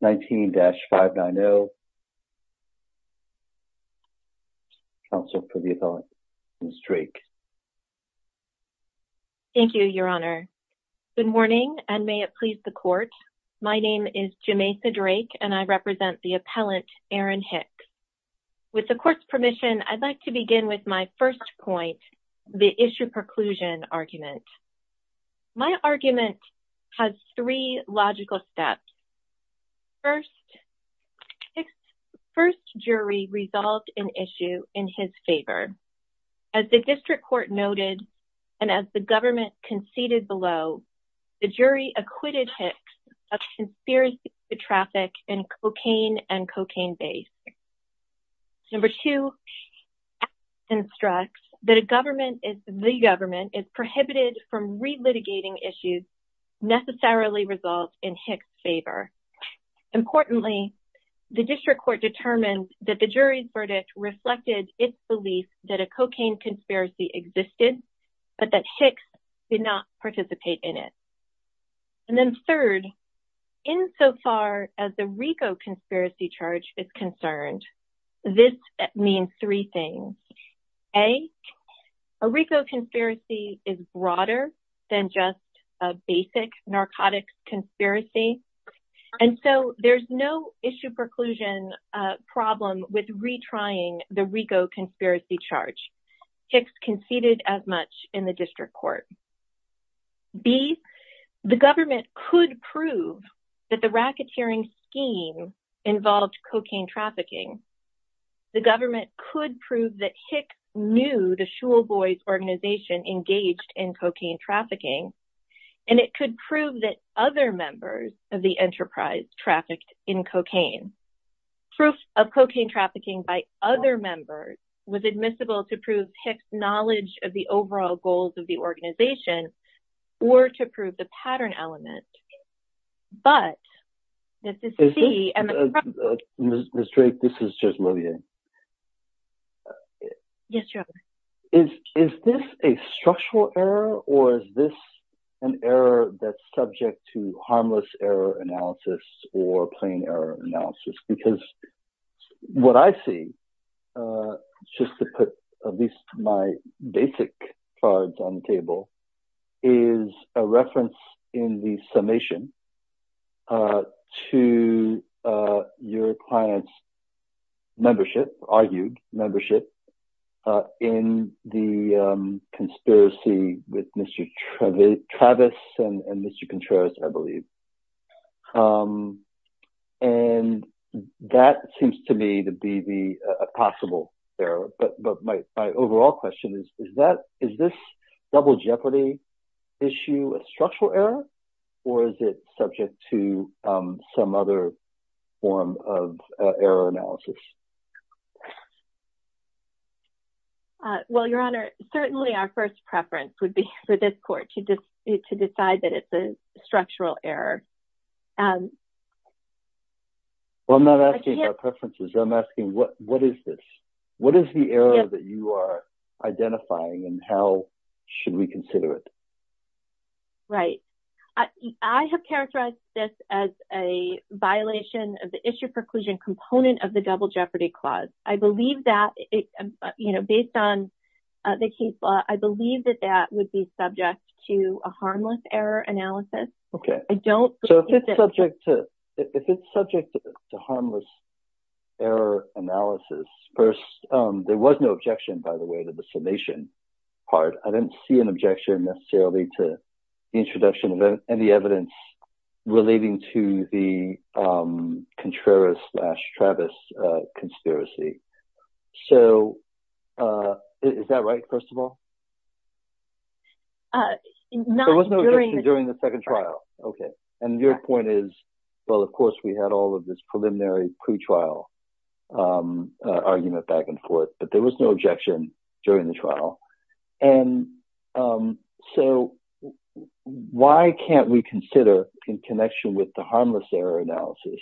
19-590. Counsel for the appellant, Ms. Drake. Thank you, Your Honor. Good morning, and may it please the Court. My name is Jameisa Drake, and I represent the appellant, Aaron Hicks. With the Court's permission, I'd like to begin with my first point, the issue preclusion argument. My argument has three logical steps. First, Hicks' first jury resolved an issue in his favor. As the District Court noted, and as the government conceded below, the jury acquitted Hicks of conspiracy to traffic in cocaine and cocaine-based. Number two, Hicks instructs that the government is prohibited from relitigating issues necessarily resolved in Hicks' favor. Importantly, the District Court determined that the jury's verdict reflected its belief that a cocaine conspiracy existed, but that Hicks did not participate in it. And then third, insofar as the RICO conspiracy charge is concerned, this means three things. A, a RICO conspiracy is broader than just a basic narcotics conspiracy, and so there's no issue preclusion problem with retrying the RICO conspiracy charge. Hicks conceded as much in the District Court. B, the government could prove that the racketeering scheme involved cocaine trafficking. The government could prove that Hicks knew the Shule Boys organization engaged in cocaine trafficking, and it could prove that other members of the enterprise trafficked in cocaine. Proof of cocaine trafficking by other members was admissible to prove Hicks' knowledge of the overall goals of the organization, or to prove the pattern element. But, this is C, and the... Ms. Drake, this is Judge Lillian. Yes, Your Honor. Is this a structural error, or is this an error that's subject to harmless error analysis or plain error analysis? Because what I see, just to put at least my basic cards on the table, is a reference in the summation to your client's membership, argued membership, in the conspiracy with Mr. Travis and Mr. Contreras, I believe. And that seems to me to be the possible error, but my overall question is, is this double jeopardy issue a structural error, or is it subject to some other form of error analysis? Well, Your Honor, certainly our first preference would be for this court to decide that it's a structural error. Well, I'm not asking for preferences. I'm asking, what is this? What is the error that you are identifying, and how should we consider it? Right. I have characterized this as a violation of the issue preclusion component of the double jeopardy clause. I believe that, you know, based on the case law, I believe that that would be subject to a harmless error analysis. Okay. So, if it's subject to harmless error analysis, first, there was no objection, by the way, to the summation part. I didn't see an objection necessarily to the introduction of any evidence relating to the Contreras-slash-Travis conspiracy. So, is that right, first of all? There was no objection during the second trial. Okay. And your point is, well, of course, we had all of this preliminary pretrial argument back and forth, but there was no objection during the trial. And so, why can't we consider, in connection with the harmless error analysis,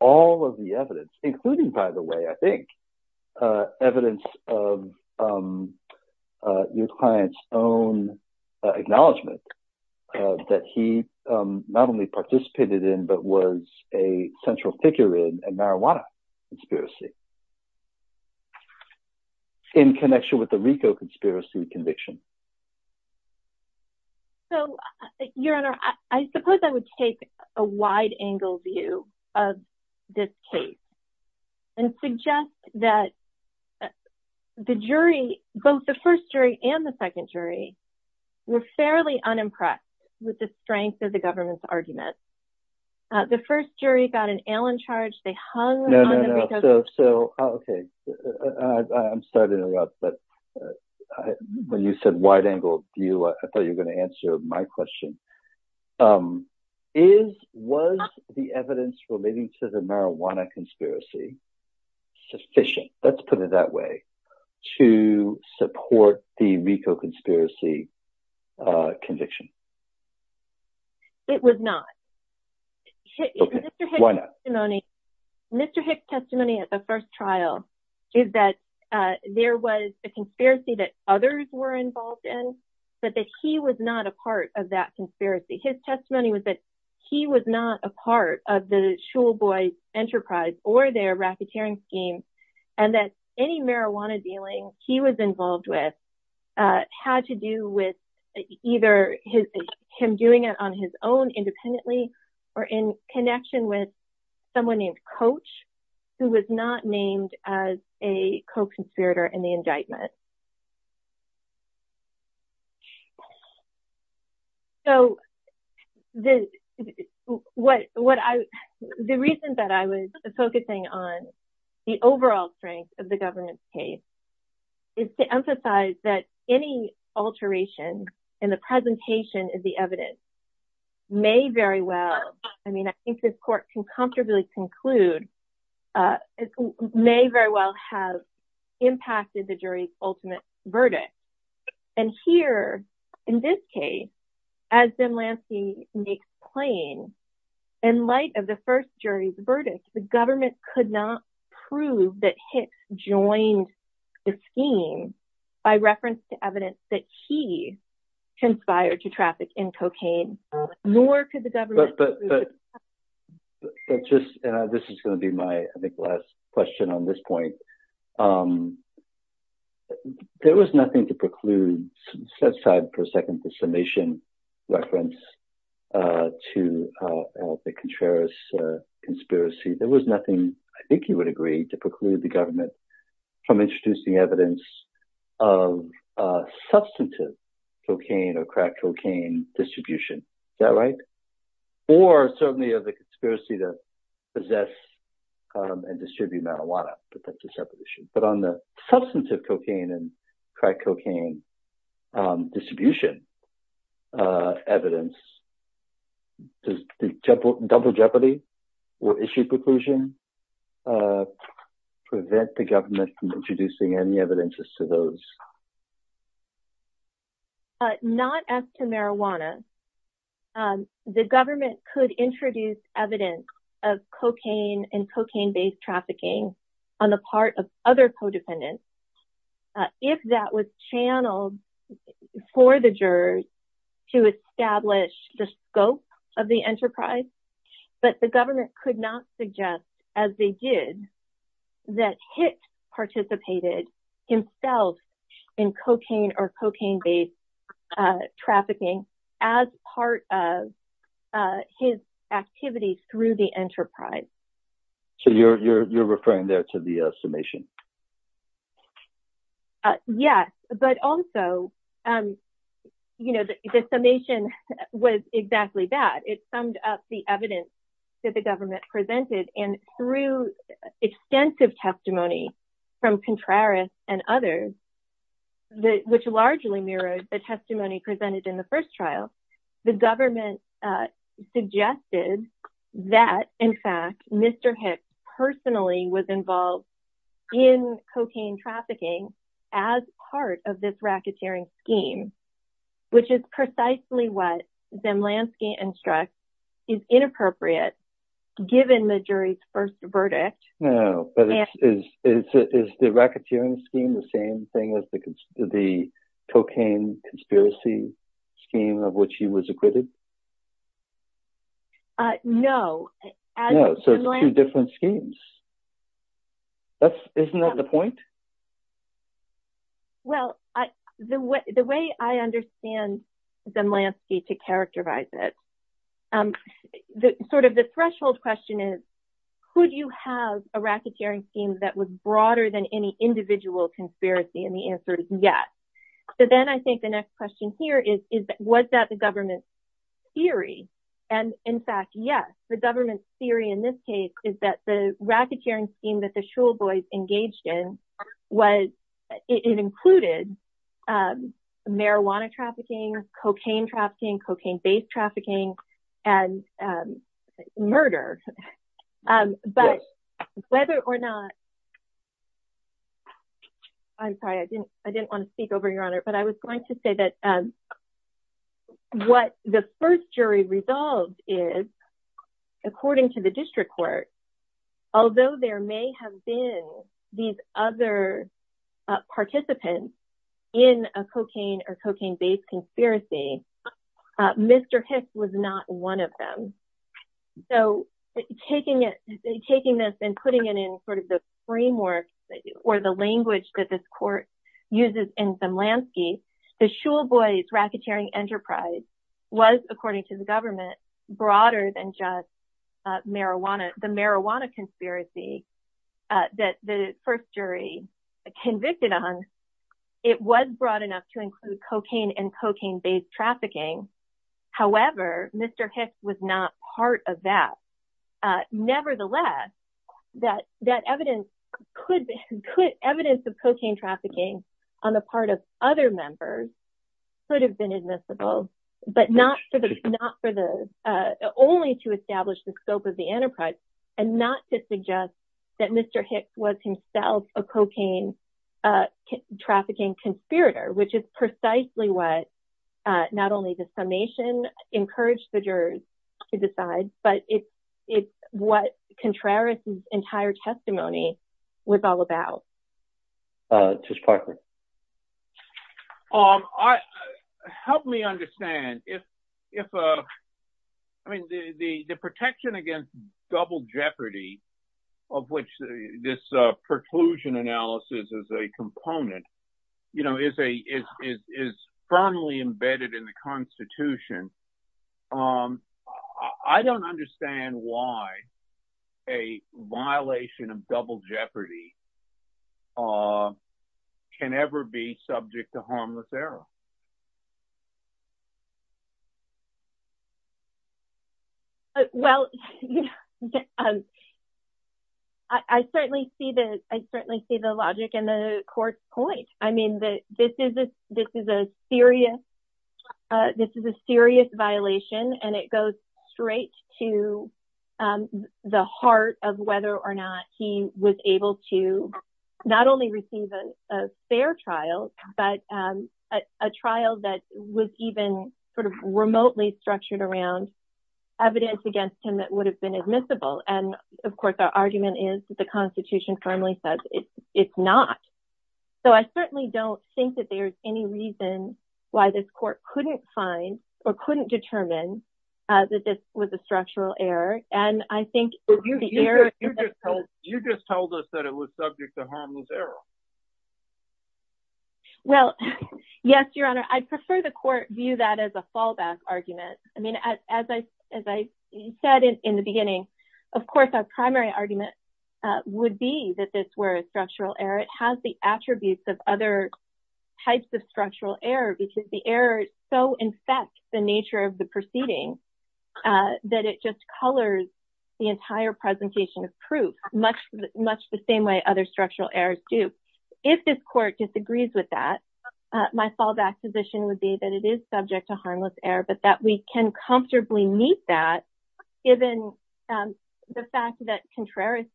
all of the evidence, including, by the way, I think, evidence of your client's own acknowledgment that he not only participated in, but was a central figure in a marijuana conspiracy? In connection with the RICO conspiracy conviction? So, Your Honor, I suppose I would take a wide-angle view of this case and suggest that the jury, both the first jury and the second jury, were fairly unimpressed with the strength of the government's argument. The first jury got an ale in charge. They hung on the RICO conspiracy. So, okay. I'm sorry to interrupt, but when you said wide-angle view, I thought you were going to answer my question. Was the evidence relating to the marijuana conspiracy sufficient, let's put it that way, to support the RICO conspiracy conviction? It was not. Okay. Why not? Mr. Hicks' testimony at the first trial is that there was a conspiracy that others were involved in, but that he was not a part of that conspiracy. His testimony was that he was not a part of the Shule Boys' enterprise or their racketeering scheme, and that any alteration, him doing it on his own independently or in connection with someone named Coach, who was not named as a co-conspirator in the indictment. So, the reason that I was focusing on the overall strength of the government's case is to emphasize that any alteration in the presentation of the evidence may very well, I mean, I think this court can comfortably conclude, may very well have impacted the jury's ultimate verdict. And here, in this case, as Ben Lansky makes plain, in light of the first jury's verdict, the government could not prove that Hicks joined the scheme by reference to evidence that he conspired to traffic in cocaine, nor could the government prove that Coach did. This is going to be my, I think, last question on this point. There was nothing to preclude set aside for a second, the summation reference to the Contreras conspiracy. There was nothing, I think you would agree, to preclude the government from introducing evidence of substantive cocaine or crack cocaine distribution. Is that right? Or certainly of the conspiracy to possess and distribute marijuana, but that's a separate issue. But on the substantive cocaine and crack cocaine distribution evidence, does the double jeopardy or issue preclusion prevent the government from introducing any evidence as to those? Not as to marijuana. The government could introduce evidence of cocaine and cocaine based trafficking on the part of other codependents, if that was channeled for the jurors to establish the scope of the enterprise. But the government could not suggest, as they did, that Hicks participated himself in cocaine or cocaine based trafficking as part of his activity through the enterprise. So you're referring there to the summation? Yes, but also, the summation was exactly that. It summed up the evidence that the government presented and through extensive testimony from Contreras and others, which largely mirrored the testimony presented in the first trial, the government suggested that, in fact, Mr. Hicks personally was involved in cocaine trafficking as part of this racketeering scheme, which is precisely what Zemlansky instructs is inappropriate, given the jury's first verdict. No, but is the racketeering scheme the same thing as the cocaine conspiracy scheme of which he was acquitted? No. So it's two different schemes. Isn't that the point? Well, the way I understand Zemlansky to characterize it, sort of the threshold question is, could you have a racketeering scheme that was broader than any individual conspiracy? And the answer is yes. So then I think the next question here is, was that the government's theory? And in fact, yes, the government's theory in this case is that the racketeering scheme that the Schulboys engaged in, it included marijuana trafficking, cocaine trafficking, cocaine-based trafficking, and murder. But whether or not, I'm sorry, I didn't want to speak over, Your Honor, but I was going to say that what the first jury resolved is, according to the district court, although there may have been these other participants in a cocaine or cocaine-based conspiracy, Mr. Hicks was not one of them. So taking this and putting it in sort of the framework or the language that this court uses in Zemlansky, the Schulboys racketeering enterprise was, according to the government, broader than just the marijuana conspiracy that the first jury convicted on. It was broad enough to include cocaine and cocaine-based trafficking. However, Mr. Hicks was not part of that. Nevertheless, that evidence of cocaine trafficking on the part of other members could have been admissible, but not for the, not for the, only to establish the scope of the enterprise and not to suggest that Mr. Hicks was himself a cocaine trafficking conspirator, which is precisely what not only the summation encouraged the jurors to decide, but it's what Contreras' entire testimony was all about. Judge Parker? Help me understand. If, if, I mean, the, the, the protection against double jeopardy of which this preclusion analysis is a component, you know, is a, is, is firmly embedded in the constitution. I don't understand why a violation of double jeopardy can ever be subject to harmless error. Well, I certainly see the, I certainly see the logic in the court's point. I mean, this is a, this is a serious, this is a serious violation, and it goes straight to the heart of whether or not he was able to not only receive a fair trial, but a trial that was even sort of remotely structured around evidence against him that would have been admissible. And of course, our argument is the constitution firmly says it's, it's not. So I certainly don't think that there's any reason why this court couldn't find or couldn't determine that this was a structural error. And I think You just told us that it was subject to harmless error. Well, yes, Your Honor. I prefer the court view that as a fallback argument. I mean, as I, as I said in the beginning, of course, our primary argument would be that this were a structural error. It has the attributes of other types of structural error because the error so infects the nature of the proceeding that it just colors the entire presentation of proof much, much the same way other structural errors do. If this court disagrees with that, my fallback position would be that it is subject to harmless error, but that we can comfortably meet that given the fact that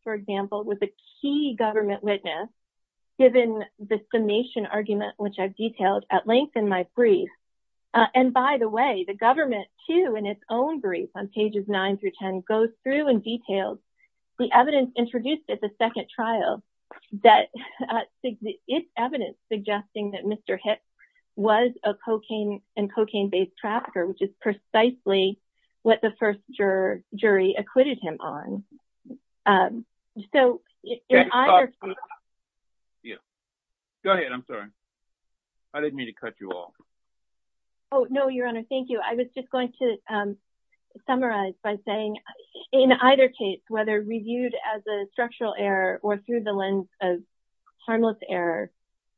for example, with a key government witness, given the summation argument, which I've detailed at length in my brief. And by the way, the government too, in its own brief on pages nine through 10 goes through and details the evidence introduced at the second trial that it's evidence suggesting that Mr. Hicks was a cocaine and cocaine based trafficker, which is precisely what the first juror jury acquitted him on. So, go ahead. I'm sorry. I didn't mean to cut you off. Oh, no, Your Honor. Thank you. I was just going to summarize by saying in either case, whether reviewed as a structural error or through the lens of harmless error,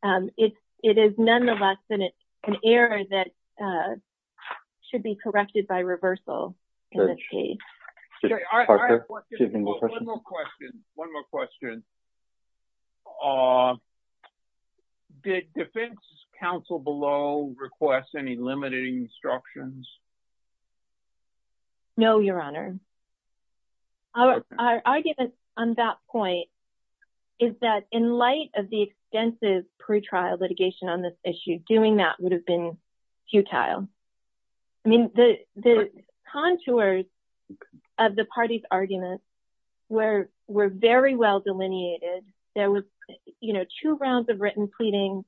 it is nonetheless an error that should be corrected by reversal in this case. One more question. Did defense counsel below request any limiting instructions? No, Your Honor. Our argument on that point is that in light of the extensive pretrial litigation on this issue, doing that would have been futile. I mean, the contours of the party's arguments were very well delineated. There were two rounds of written pleading.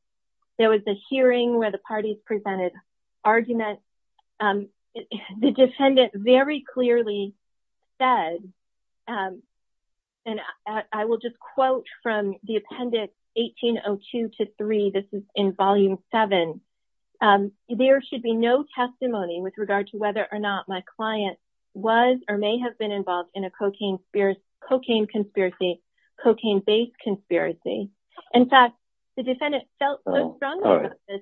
There was a hearing where the parties presented arguments. The defendant very clearly said, and I will just quote from the appendix 1802 to 3. This is in volume 7. There should be no testimony with regard to whether or not my client was or may have been involved in a cocaine conspiracy, cocaine based conspiracy. In fact, the defendant felt so strongly about this.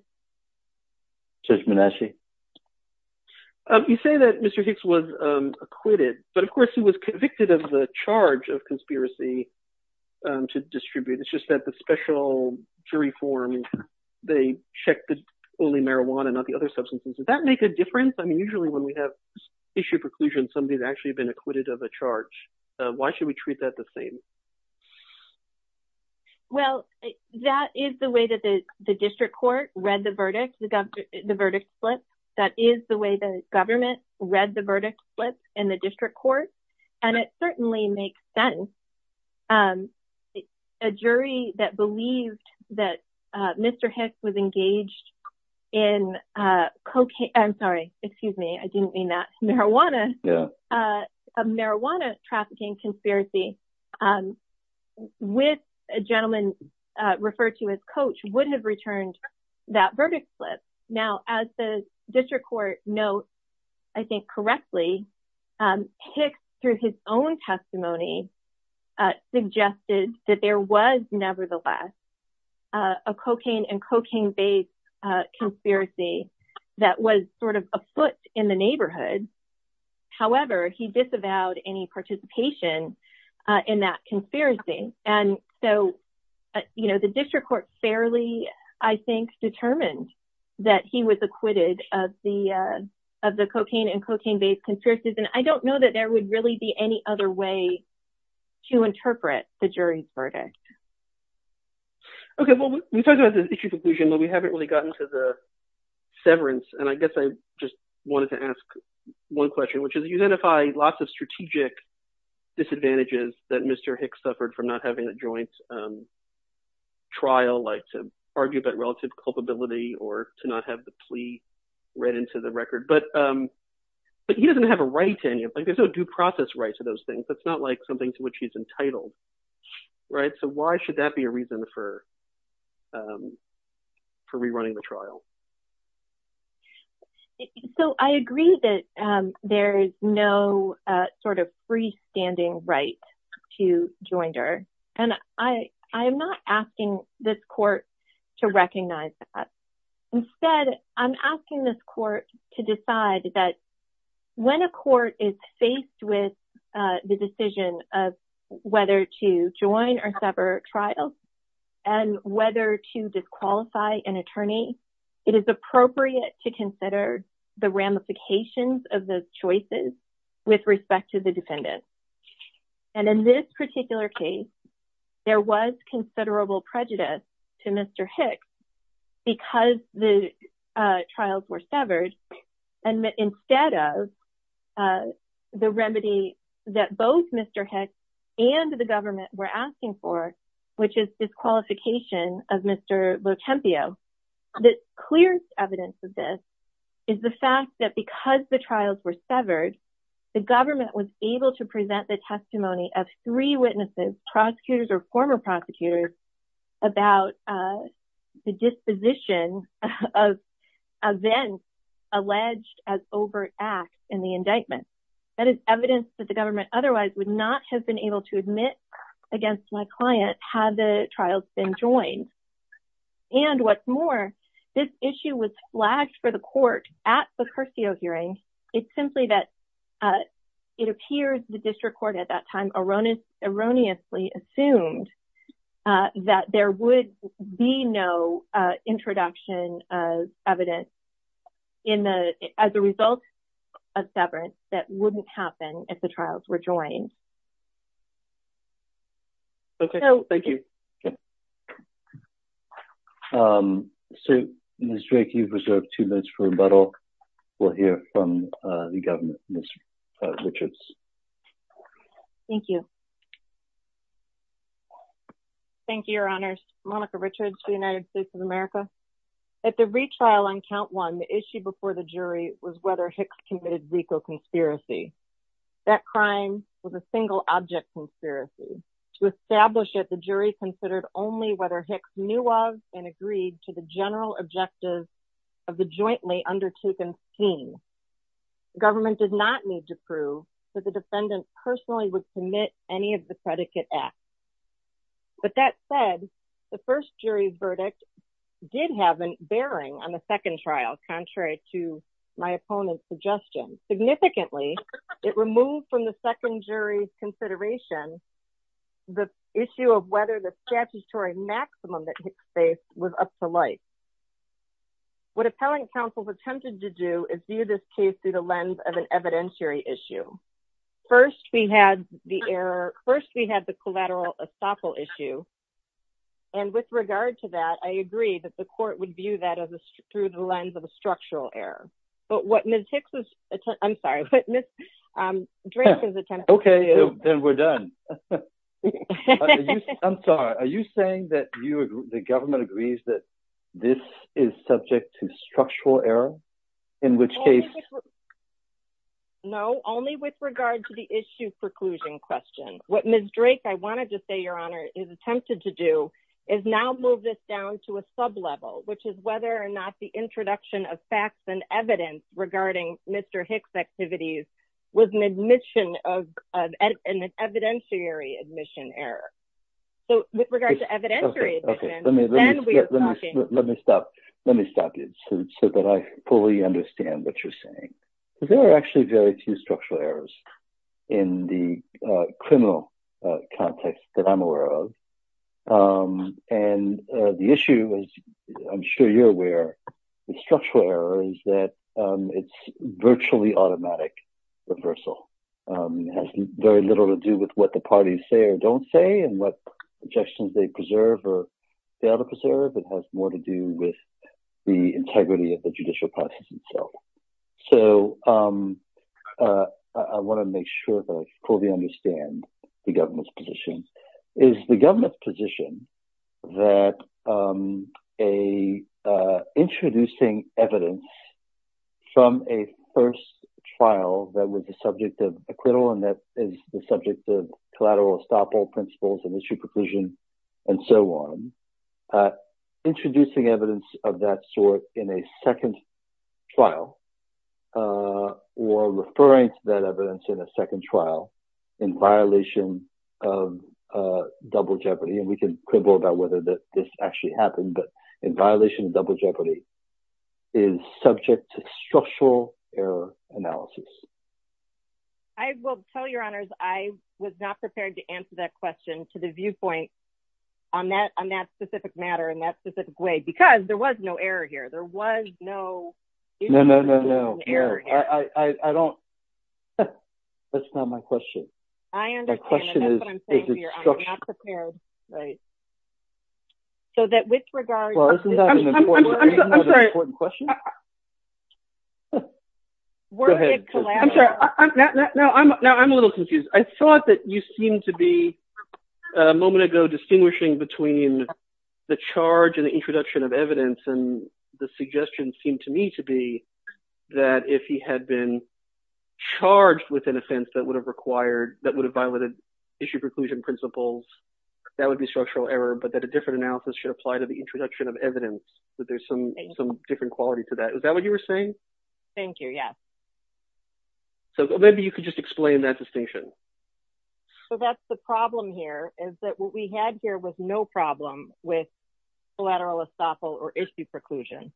Judge Menasche. You say that Mr. Hicks was acquitted, but of course he was convicted of the charge of conspiracy to distribute. It's just that the special jury form, they checked only marijuana, not the other substances. Does that make a difference? I mean, usually when we have issue preclusion, somebody's actually been acquitted of a charge. Why should we treat that the same? Well, that is the way that the district court read the verdict, the verdict slip. That is the way the government read the verdict slip in the district court. And it certainly makes sense. A jury that believed that Mr. Hicks was engaged in cocaine. I'm sorry. Excuse me. I didn't mean that. Marijuana, a marijuana trafficking conspiracy with a gentleman referred to as coach would have returned that verdict slip. Now, as the district court notes, I think correctly, Hicks, through his own testimony, suggested that there was nevertheless a cocaine and cocaine based conspiracy that was sort of afoot in the neighborhood. However, he disavowed any participation in that conspiracy. And so the district court fairly, I think, determined that he was acquitted of the cocaine and cocaine based conspiracies. And I don't know that there would really be any other way to answer that. I mean, we haven't really gotten to the severance. And I guess I just wanted to ask one question, which is you identify lots of strategic disadvantages that Mr. Hicks suffered from not having a joint trial, like to argue about relative culpability or to not have the plea read into the record. But he doesn't have a right to any of it. There's no due process right to those things. That's not like something to which he's for rerunning the trial. So I agree that there is no sort of freestanding right to joinder. And I am not asking this court to recognize that. Instead, I'm asking this court to decide that when a court is faced with the decision of whether to join or sever trials and whether to disqualify an attorney, it is appropriate to consider the ramifications of those choices with respect to the defendant. And in this particular case, there was considerable prejudice to Mr. Hicks because the trials were severed. And instead of the remedy that both Mr. Hicks and the government were asking for, which is disqualification of Mr. Botempio, the clearest evidence of this is the fact that because the trials were severed, the government was able to present the testimony of three witnesses, prosecutors or former prosecutors, about the disposition of events alleged as overt acts in the indictment. That is evidence that the government otherwise would not have been able to admit against my client had the trials been joined. And what's more, this issue was flagged for the court at the Curcio hearing. It's simply that it appears the district court at that time erroneously assumed that there would be no introduction of evidence as a result of severance that wouldn't happen if the trials were joined. Thank you. Ms. Drake, you've reserved two minutes for rebuttal. We'll hear from the government. Ms. Richards. Thank you. Thank you, Your Honors. Monica Richards for the United States of America. At the retrial on count one, the issue before the jury was whether Hicks committed Zika conspiracy. That crime was a single object conspiracy. To establish it, the jury considered only whether Hicks knew of and agreed to the general objective of the jointly undertaken scheme. The government did not need to prove that the defendant personally would commit any of the predicate acts. But that said, the first jury's verdict did have a bearing on the second trial, contrary to my opponent's suggestion. Significantly, it removed from the second jury's consideration the issue of whether the statutory maximum that Hicks faced was up to light. What appellant counsel attempted to do is view this case through the lens of an evidentiary issue. First, we had the collateral estoppel issue. And with regard to that, I agree that the court would view that through the lens of a structural error. But what Ms. Hicks, I'm sorry, Ms. Drake is attempting... Okay, then we're done. I'm sorry. Are you saying that the government agrees that this is subject to structural error? In which case... No, only with regard to the issue preclusion question. What Ms. Drake, I wanted to say, Your Honor, has attempted to do is now move this down to a sublevel, which is whether or not the introduction of facts and evidence regarding Mr. Hicks' activities was an evidentiary admission error. So with regard to evidentiary... Okay, let me stop you so that I fully understand what you're saying. There are actually very few structural errors in the criminal context that I'm aware of. And the issue, as I'm sure you're aware, with structural error is that it's virtually automatic reversal. It has very little to do with what the parties say or don't say and what objections they preserve or fail to preserve. It has more to do with the integrity of the judicial process itself. So I want to make sure that I fully understand the government's position. Is the government's position that introducing evidence from a first trial that was the subject of acquittal and that is the subject of collateral estoppel principles and issue preclusion and so on, introducing evidence of that sort in a second trial or referring to that evidence in a second trial in violation of double jeopardy, and we can quibble about whether this actually happened, but in violation of double jeopardy, is subject to structural error analysis? I will tell you, Your Honors, I was not prepared to answer that question to the viewpoint on that specific matter in that specific way, because there was no error here. There was no... No, no, no, no. I don't... That's not my question. I understand. That's what I'm saying to you. I'm not prepared. Right. So that with regard... I'm sorry. Go ahead. I'm sorry. No, I'm a little confused. I thought that you seemed to be a moment ago distinguishing between the charge and the introduction of evidence and the suggestion seemed to me to be that if he had been charged with an offense that would have required, that would have violated issue preclusion principles, that would be structural error, but that a different analysis should apply to the introduction of evidence that there's some different quality to that. Is that what you were saying? Thank you. Yes. So maybe you could just explain that distinction. So that's the problem here, is that what we had here was no problem with collateral estoppel or issue preclusion.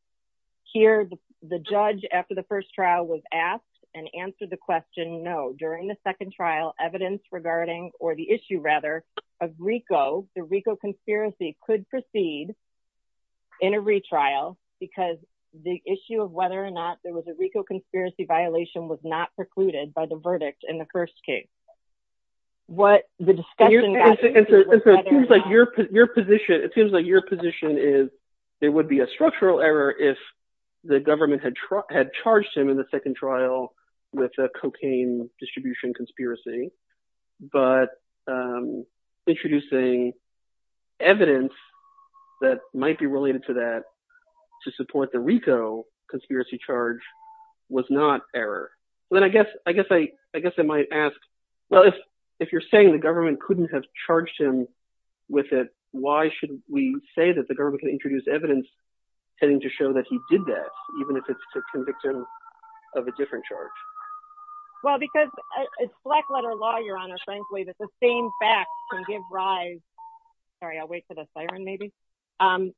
Here, the judge after the first trial was asked and answered the question, no, during the second trial, evidence regarding, or the issue rather, of RICO, the RICO conspiracy could proceed in a retrial because the issue of whether or not there was a RICO conspiracy violation was not precluded by the verdict in the first case. It seems like your position is there would be a structural error if the government had charged him in the second trial with a cocaine distribution conspiracy, but introducing evidence that might be related to that to support the RICO conspiracy charge was not error. Then I guess I might ask, well, if you're saying the government couldn't have charged him with it, why should we say that the government can introduce evidence heading to show that he did that, even if it's to convict him of a different charge? Well, because it's black letter law, Your Honor, frankly, that the same fact can give rise. Sorry, I'll wait for the siren, maybe.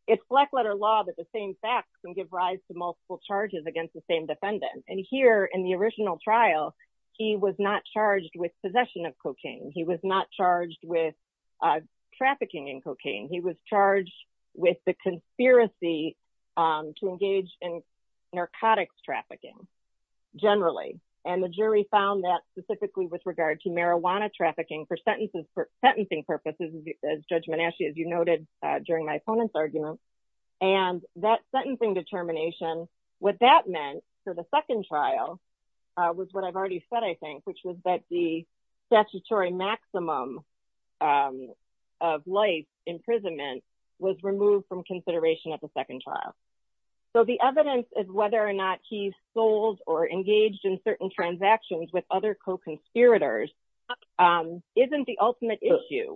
It's black letter law that the same fact can give rise to multiple charges against the same defendant. And here in the original trial, he was not charged with possession of cocaine. He was not charged with conspiracy to engage in narcotics trafficking generally. And the jury found that specifically with regard to marijuana trafficking for sentences for sentencing purposes, as Judge Menasche, as you noted during my opponent's argument. And that sentencing determination, what that meant for the second trial was what I've already said, I think, which was that the statutory maximum of life imprisonment was removed from consideration at the second trial. So the evidence is whether or not he sold or engaged in certain transactions with other co-conspirators isn't the ultimate issue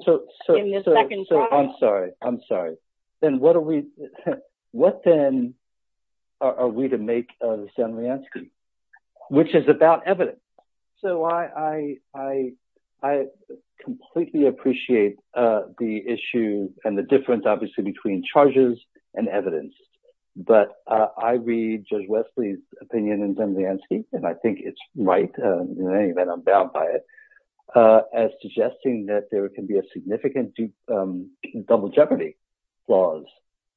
in the second trial. I'm sorry. I'm sorry. Then what are we what then are we to make of Stanlianski, which is about evidence? So I completely appreciate the issue and the difference, obviously, between charges and evidence. But I read Judge Wesley's opinion in Stanlianski, and I think it's right, in any event, I'm bound by it, as suggesting that there can be a significant double jeopardy clause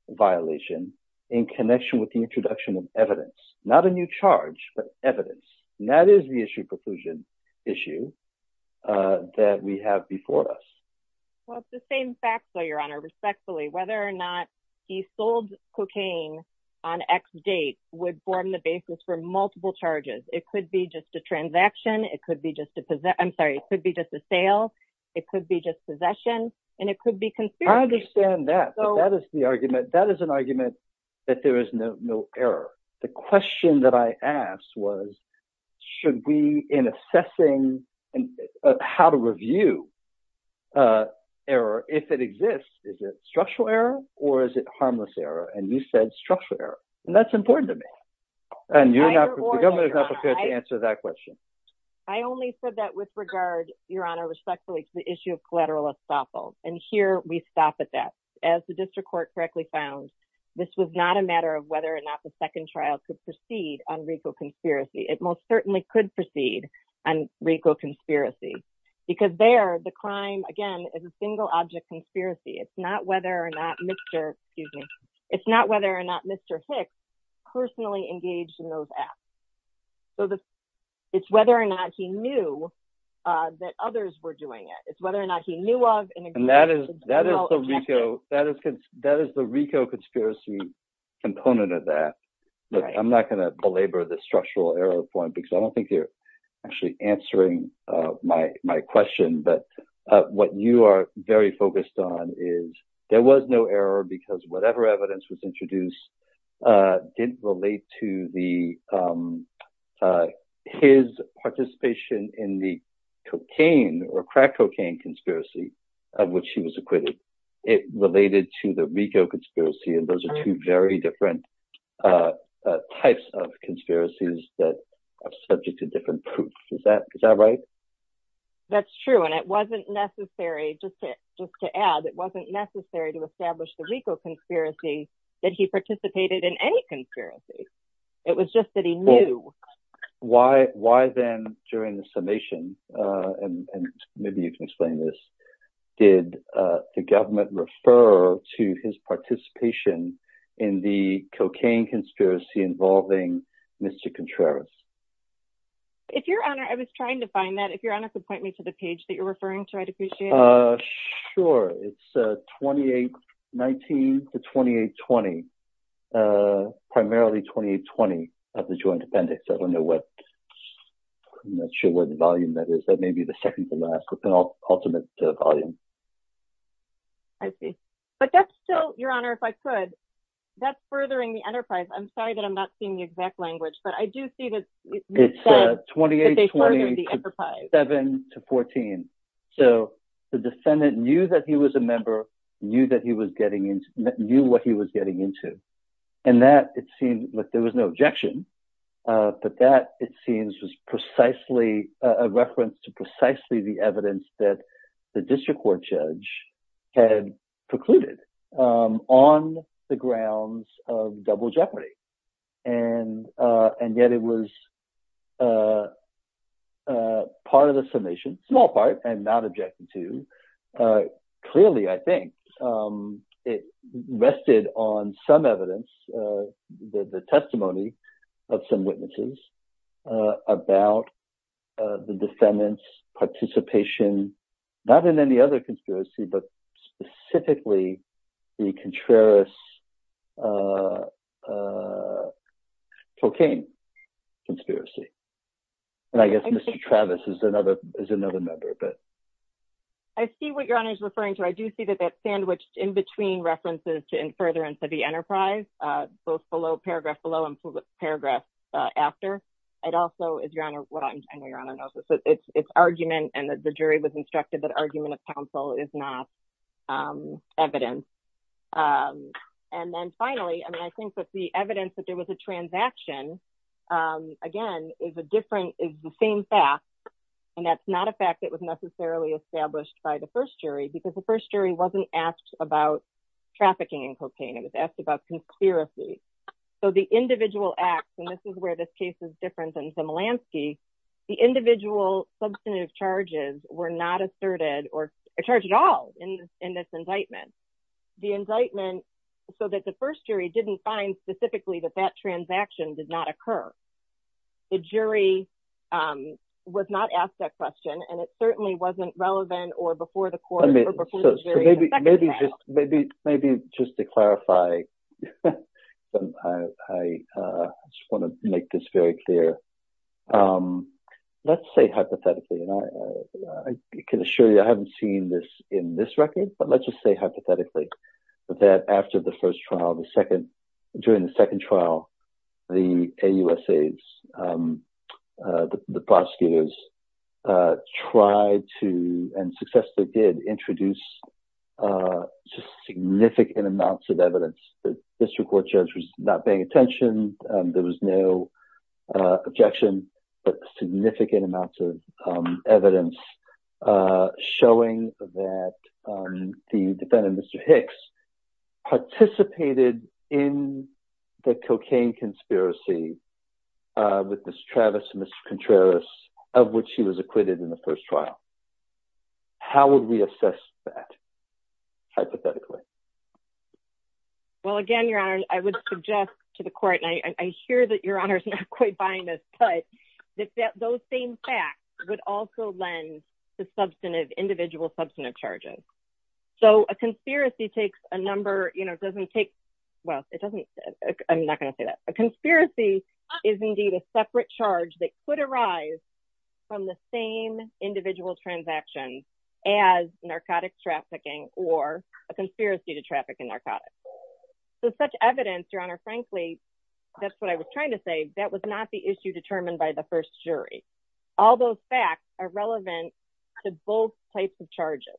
violation in connection with the introduction of evidence, not a new charge, but evidence. And that is the issue preclusion issue that we have before us. Well, it's the same facts, Your Honor, respectfully, whether or not he sold cocaine on X date would form the basis for multiple charges. It could be just a transaction. It could be just a possession. I'm sorry. It could be just a sale. It could be just possession, and it could be conspiracy. I understand that. But that is the argument. That is an argument that there is no error. The question that I asked was, should we, in assessing how to review error, if it exists, is it structural error or is it harmless error? And you said structural error. And that's important to me. And the government is not prepared to answer that question. I only said that with regard, Your Honor, respectfully, to the issue of collateral estoppel. And here we stop at that. As the district court correctly found, this was not a matter of whether or not the second trial could proceed on RICO conspiracy. It most certainly could proceed on RICO conspiracy, because there the crime, again, is a single object conspiracy. It's not whether or not Mr. Hicks personally engaged in those acts. So it's whether or not he knew that others were doing it. It's whether or not he knew of. And that is the RICO conspiracy component of that. I'm not going to belabor the structural error point, because I don't think you're actually answering my question. But what you are very focused on is there was no error because whatever evidence was introduced didn't relate to his participation in the cocaine or crack cocaine conspiracy of which he was acquitted. It related to the RICO conspiracy. And those are two very different types of conspiracies that are subject to different proofs. Is that right? That's true. And it wasn't necessary, just to add, it wasn't necessary to establish the RICO conspiracy that he participated in any conspiracy. It was just that he knew. Why then, during the summation, and maybe you can explain this, did the RICO conspiracy involve Mr. Contreras? I was trying to find that. If Your Honor could point me to the page that you're referring to, I'd appreciate it. Sure. It's 2819 to 2820. Primarily 2820 of the Joint Appendix. I'm not sure what volume that is. That may be the second to last, but the ultimate volume. I see. But that's still, Your Honor, if I could, that's furthering the enterprise. I'm sorry that I'm not seeing the exact language, but I do see that it's 2827 to 14. So the defendant knew that he was a member, knew what he was getting into. And that, it seems, there was no objection, but that, it seems, was precisely a reference to precisely the evidence that the district court judge had precluded on the grounds of double jeopardy. And yet it was part of the summation, small part, and not objected to. Clearly, I think, it rested on some evidence, the testimony of some witnesses about the defendant's participation, not in any other conspiracy, but specifically the Contreras cocaine conspiracy. And I guess Mr. Travis is another member. I see what Your Honor is both below, paragraph below and paragraph after. It's argument, and the jury was instructed that argument of counsel is not evidence. And then finally, I think that the evidence that there was a transaction, again, is the same fact, and that's not a fact that was necessarily established by the first jury, because the first jury wasn't asked about trafficking in cocaine. It was asked about conspiracy. So the individual acts, and this is where this case is different than Zemelanski, the individual substantive charges were not asserted or charged at all in this indictment. The indictment, so that the first jury didn't find specifically that that transaction did not occur. The jury was not asked that question, and it certainly wasn't relevant or before the court. Maybe just to clarify, I just want to make this very clear. Let's say hypothetically, and I can assure you I haven't seen this in this record, but let's just say hypothetically that after the first trial, the second, during the second trial, the AUSAs, the prosecutors tried to, and successfully did, introduce significant amounts of evidence. The district court judge was not paying attention. There was no objection, but significant amounts of evidence showing that the defendant, Mr. Hicks, participated in the cocaine conspiracy with Ms. Travis and Mr. Contreras, of which he was acquitted in the first trial. How would we assess that, hypothetically? Well, again, Your Honor, I would suggest to the court, and I hear that Your Honor is not quite buying this, but that those same facts would also lend to individual substantive charges. So a conspiracy takes a number, well, I'm not going to say that. A conspiracy is indeed a separate charge that could arise from the same individual transaction as narcotic trafficking or a conspiracy to traffic in narcotics. So such evidence, Your Honor, frankly, that's what I was trying to say, that was not the issue determined by the first jury. All those facts are relevant to both types of charges.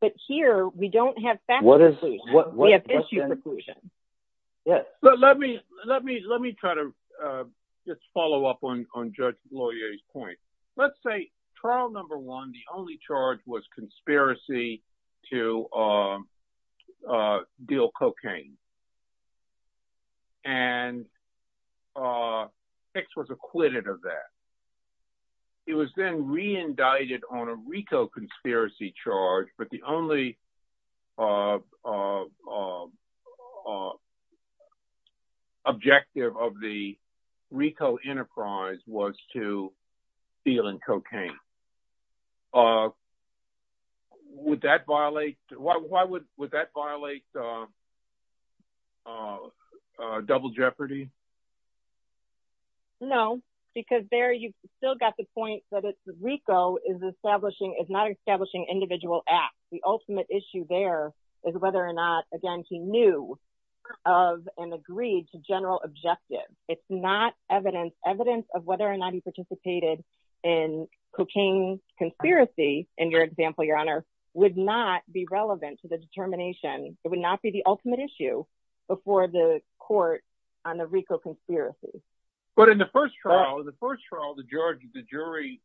But here, we don't have facts. We have issue preclusion. Let me try to just follow up on Judge Gloyer's point. Let's say trial number one, the only charge was conspiracy to deal cocaine. And Hicks was acquitted of that. He was then re-indicted on a RICO conspiracy charge, but the only objective of the RICO enterprise was to double jeopardy. No, because there you still got the point that it's RICO is not establishing individual acts. The ultimate issue there is whether or not, again, he knew of and agreed to general objective. It's not evidence of whether or not he participated in cocaine conspiracy, in your example, Your Honor, would not be relevant to the determination. It would not be the ultimate issue before the court on the RICO conspiracy. But in the first trial, the first trial, the jury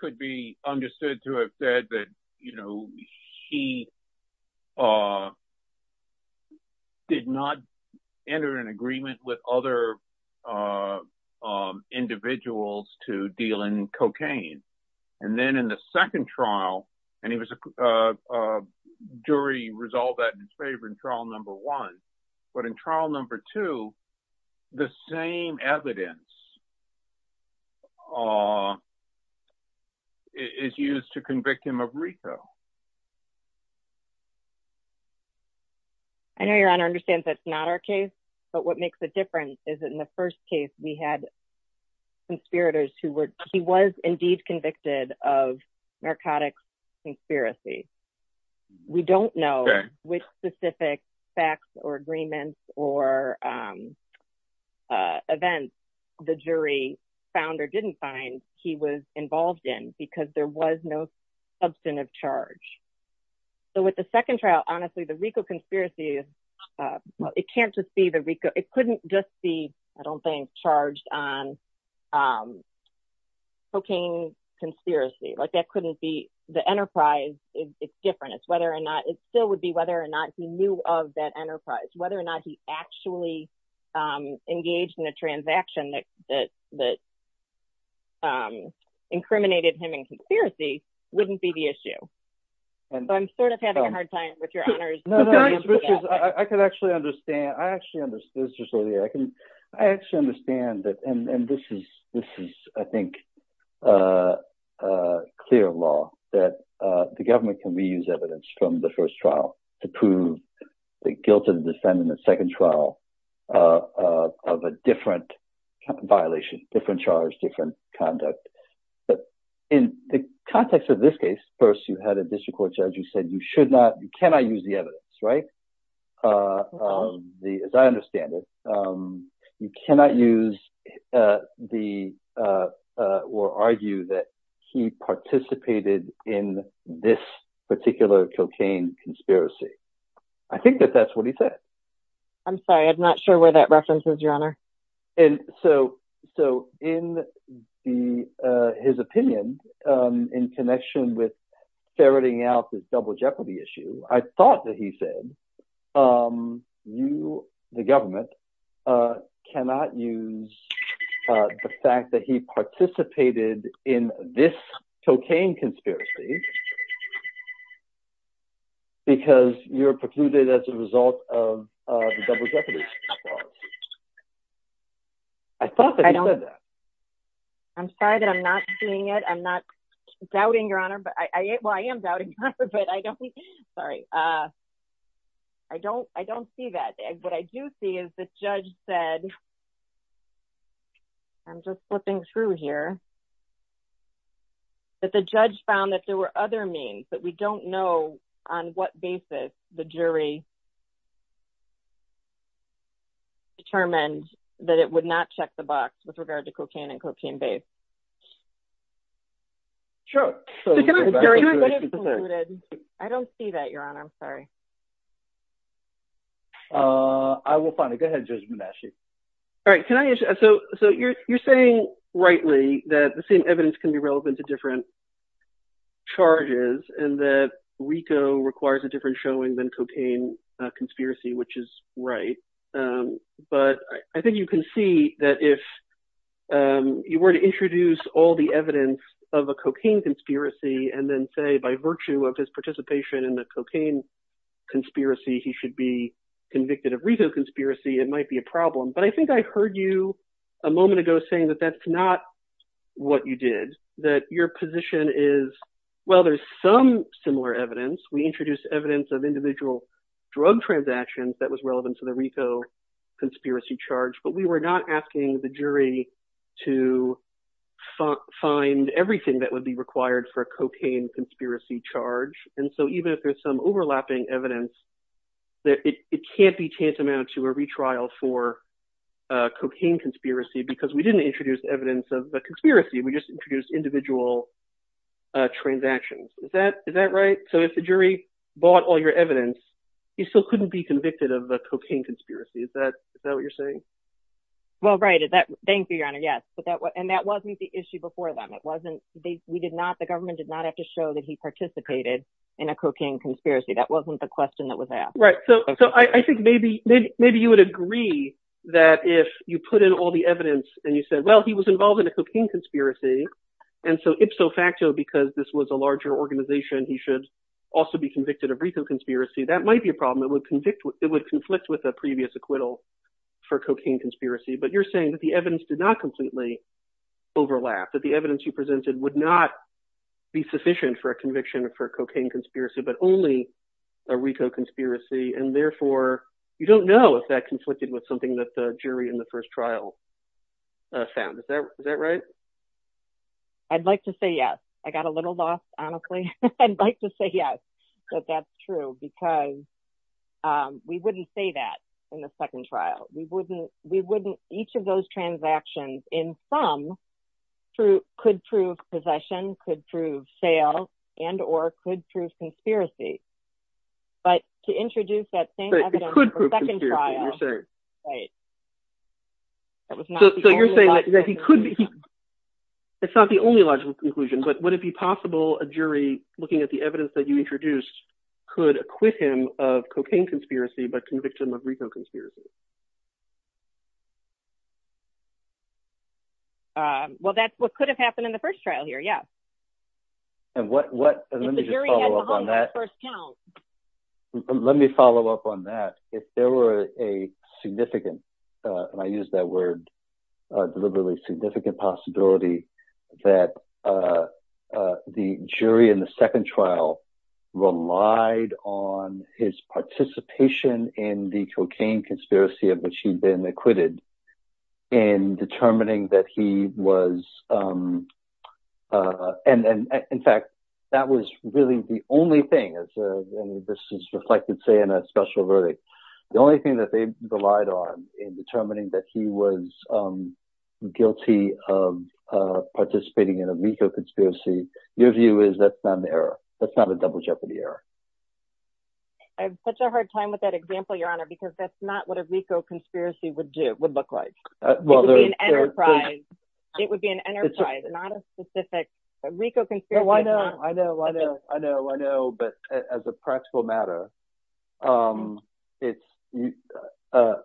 could be understood to have said that he did not enter an agreement with other individuals to deal in cocaine. And then in the second trial, and he was a jury resolved that in his favor in trial number one. But in trial number two, the same evidence is used to convict him of RICO. I know Your Honor understands that's not our case, but what makes a difference is that in the first case we had conspirators who were, he was indeed convicted of narcotics conspiracy. We don't know which specific facts or agreements or events the jury found or didn't find that he was involved in because there was no substantive charge. So with the second trial, honestly, the RICO conspiracy, it can't just be the RICO. It couldn't just be, I don't think, charged on cocaine conspiracy. Like that couldn't be the enterprise. It's different. It's whether or not it still would be whether or not he knew of that enterprise, whether or not he actually engaged in a transaction that incriminated him in conspiracy wouldn't be the issue. So I'm sort of having a hard time with your honors. I could actually understand. I actually understood. I actually understand that. And this is, I think, clear law that the government can reuse evidence from the first trial to prove the guilt of the defendant in the second trial of a different violation, different charge, different conduct. In the context of this case, first you had a district court judge who said you should not, you cannot use the evidence, right? As I understand it, you cannot use the or argue that he participated in this particular cocaine conspiracy. I think that that's what he said. I'm sorry. I'm not sure where that references your honor. And so so in the his opinion in connection with ferreting out this double jeopardy issue, I thought that he said you, the government cannot use the fact that he participated in this cocaine conspiracy because you're precluded as a result of the double jeopardy. I thought that I'm sorry that I'm not seeing it. I'm not doubting your honor, but I, well, I am doubting, but I don't think, sorry. I don't, I don't see that. What I do see is the judge said I'm just flipping through here that the judge found that there were other means that we don't know on what basis the jury determined that it would not check the box with regard to cocaine and cocaine based drugs. I don't see that your honor. I'm sorry. I will find it. Go ahead. Judge. All right. Can I. So you're saying rightly that the same evidence can be relevant to different charges and that Rico requires a different showing than cocaine conspiracy, which is right. But I think you can see that if you were to introduce all the evidence of a cocaine conspiracy and then say by virtue of his participation in the cocaine conspiracy, he should be convicted of Rico conspiracy. It might be a problem. But I think I heard you a moment ago saying that that's not what you did, that your position is, well, there's some similar evidence. We introduced evidence of individual drug transactions that was relevant to the Rico conspiracy charge, but we were not asking the jury to find everything that would be required for a cocaine conspiracy charge. And so even if there's some overlapping evidence that it can't be tantamount to a retrial for cocaine conspiracy because we didn't introduce evidence of the So if the jury bought all your evidence, you still couldn't be convicted of a cocaine conspiracy. Is that what you're saying? Well, right. Is that. Thank you, Your Honor. Yes. And that wasn't the issue before them. It wasn't. We did not. The government did not have to show that he participated in a cocaine conspiracy. That wasn't the question that was asked. Right. So I think maybe you would agree that if you put in all the evidence and you said, well, he was involved in a cocaine conspiracy. And so ipso facto, because this was a larger organization, he should also be convicted of Rico conspiracy. That might be a problem. It would conflict with a previous acquittal for cocaine conspiracy. But you're saying that the evidence did not completely overlap, that the evidence you presented would not be sufficient for a conviction for cocaine conspiracy, but only a Rico conspiracy. And therefore, you don't know if that I'd like to say, yes, I got a little lost, honestly. I'd like to say, yes, that that's true, because we wouldn't say that in the second trial. We wouldn't. We wouldn't. Each of those transactions in some could prove possession, could prove sale and or could prove conspiracy. But to introduce that same evidence for the second trial. Right. So you're saying that he could be. It's not the only logical conclusion, but would it be possible a jury looking at the evidence that you introduced could acquit him of cocaine conspiracy, but convict him of Rico conspiracy? Well, that's what could have happened in the first trial here. Yeah. And what what let me just follow up on that first. Let me follow up on that. If there were a significant and I use that word deliberately significant possibility that the jury in the second trial relied on his participation in the cocaine conspiracy of which he'd been acquitted in determining that he was. And in fact, that was really the only thing. This is reflected, say, in a special verdict. The only thing that they relied on in determining that he was guilty of participating in a legal conspiracy, your view is that's not an error. That's not a double jeopardy error. I have such a hard time with that example, Your Honor, because that's not what a legal conspiracy would do would look like. Well, there's an enterprise. It would be an enterprise, not a specific Rico conspiracy. I know. I know. I know. I know. I know. But as a practical matter, it's you know,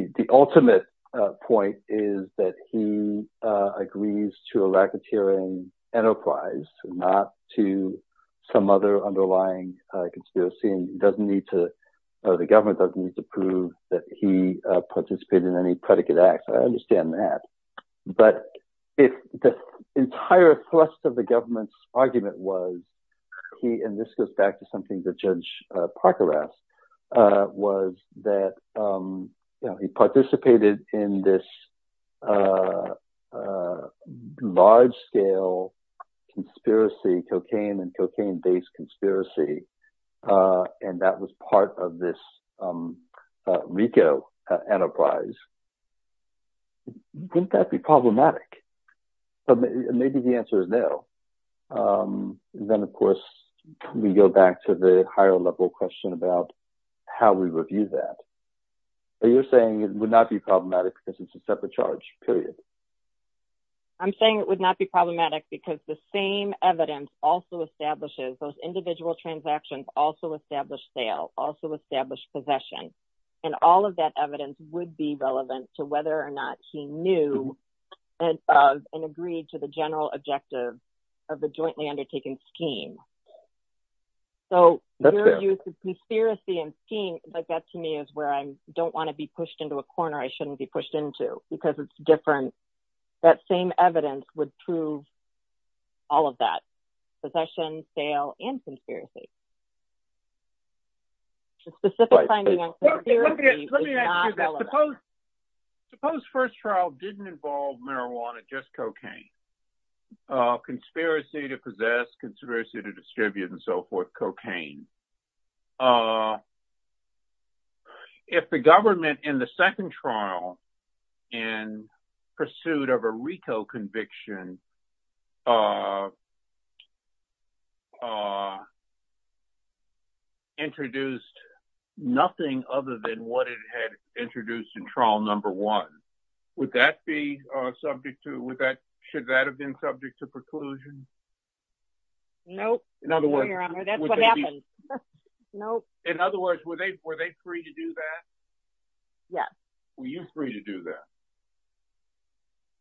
the ultimate point is that he agrees to a racketeering enterprise, not to some other underlying conspiracy. And he doesn't need to or the government doesn't need to prove that he participated in any predicate acts. I understand that. But if the entire thrust of the government's argument was he and this goes back to something that Judge Parker asked was that he participated in this large scale conspiracy, cocaine and cocaine based conspiracy, and that was part of this Rico enterprise. Wouldn't that be problematic? Maybe the answer is no. Then, of course, we go back to the higher level question about how we review that. You're saying it would not be problematic because it's a separate charge. I'm saying it would not be problematic because the same evidence also establishes those individual transactions, also established sale, also established possession. And all of that evidence would be relevant to whether or not he knew and agreed to the general objective of the jointly undertaken scheme. So the conspiracy and scheme like that to me is where I don't want to be pushed into a corner I shouldn't be pushed into because it's different. That same evidence would prove all of that. Possession, sale and conspiracy. Let me ask you this. Suppose first trial didn't involve marijuana, just cocaine. Conspiracy to possess, conspiracy to distribute and so forth, cocaine. If the government in the second trial in pursuit of a Rico conviction introduced nothing other than what it had introduced in trial number one, would that be no? In other words, were they free to do that? Yes. Were you free to do that?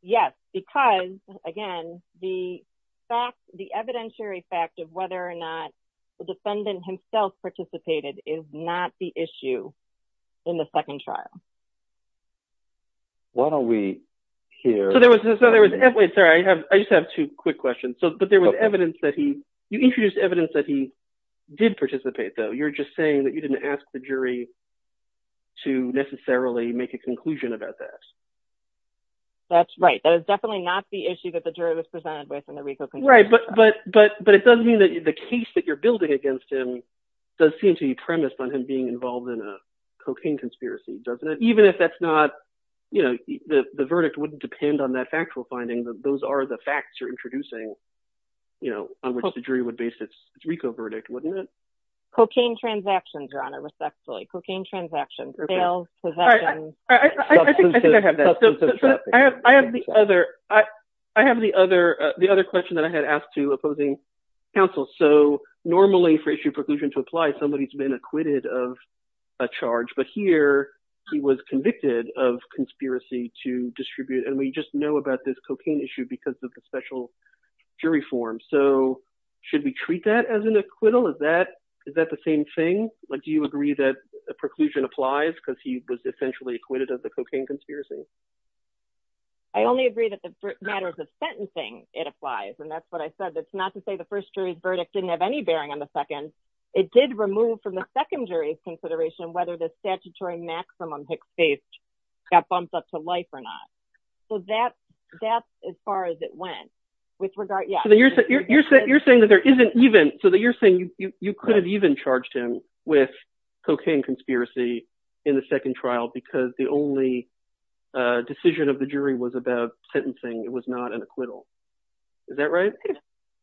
Yes, because again, the fact the evidentiary fact of whether or not the defendant himself participated is not the issue in the second trial. Why don't we hear. So there was no there was no way. Sorry, I have I just have two quick questions. So but there was evidence that he introduced evidence that he did participate, though. You're just saying that you didn't ask the jury to necessarily make a conclusion about that. That's right. That is definitely not the issue that the jury was presented with in the Rico. Right. But but but it doesn't mean that the case that you're building against him does seem to be based on that factual finding. Those are the facts you're introducing, you know, on which the jury would base its Rico verdict, wouldn't it? Cocaine transactions are on a respectfully cocaine transactions. I think I have that. I have the other I have the other the other question that I had asked to opposing counsel. So normally for issue preclusion to apply, somebody has been acquitted of a charge. But here he was convicted of conspiracy to distribute. And we just know about this cocaine issue because of the special jury form. So should we treat that as an acquittal? Is that is that the same thing? Do you agree that a preclusion applies because he was essentially acquitted of the cocaine conspiracy? I only agree that the matters of sentencing, it applies. And that's what I said. It's not to say the first jury's verdict didn't have any bearing on the second. It did remove from the second jury's consideration whether the statutory maximum Hicks faced got bumped up to life or not. So that that's as far as it went with regard. You're saying that there isn't even so that you're saying you could have even charged him with cocaine conspiracy in the second trial because the only decision of the jury was about sentencing. It was not an acquittal. Is that right?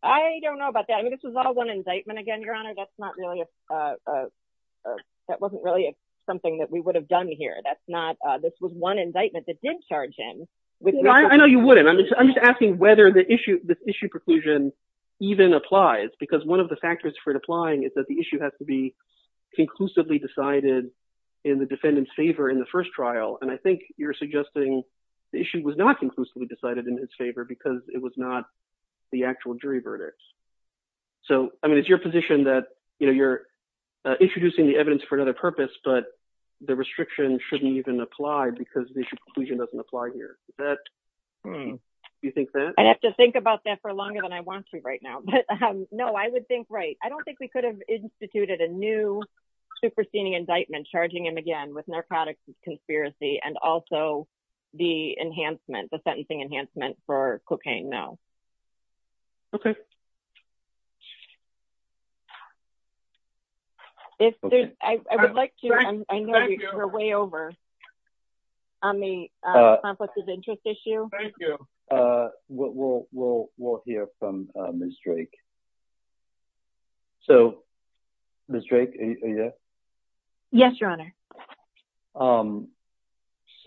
I don't know about that. I mean, this was all one indictment. Again, Your Honor, that's not really a that wasn't really something that we would have done here. That's not this was one indictment that did charge him. I know you wouldn't. I'm just I'm just asking whether the issue the issue preclusion even applies because one of the factors for it applying is that the issue has to be conclusively decided in the defendant's favor in the first trial. And I think you're suggesting the issue was not conclusively decided in his favor because it was not the actual jury verdict. So, I mean, it's your position that you're introducing the evidence for another purpose, but the restriction shouldn't even apply because the conclusion doesn't apply here that you think that I have to think about that for longer than I want to right now. But no, I would think right. I don't think we could have instituted a new superseding indictment charging him again with narcotics conspiracy and also the enhancement the sentencing enhancement for cocaine now. Okay. If there's I would like to go way over on the issue. So, yes, your honor.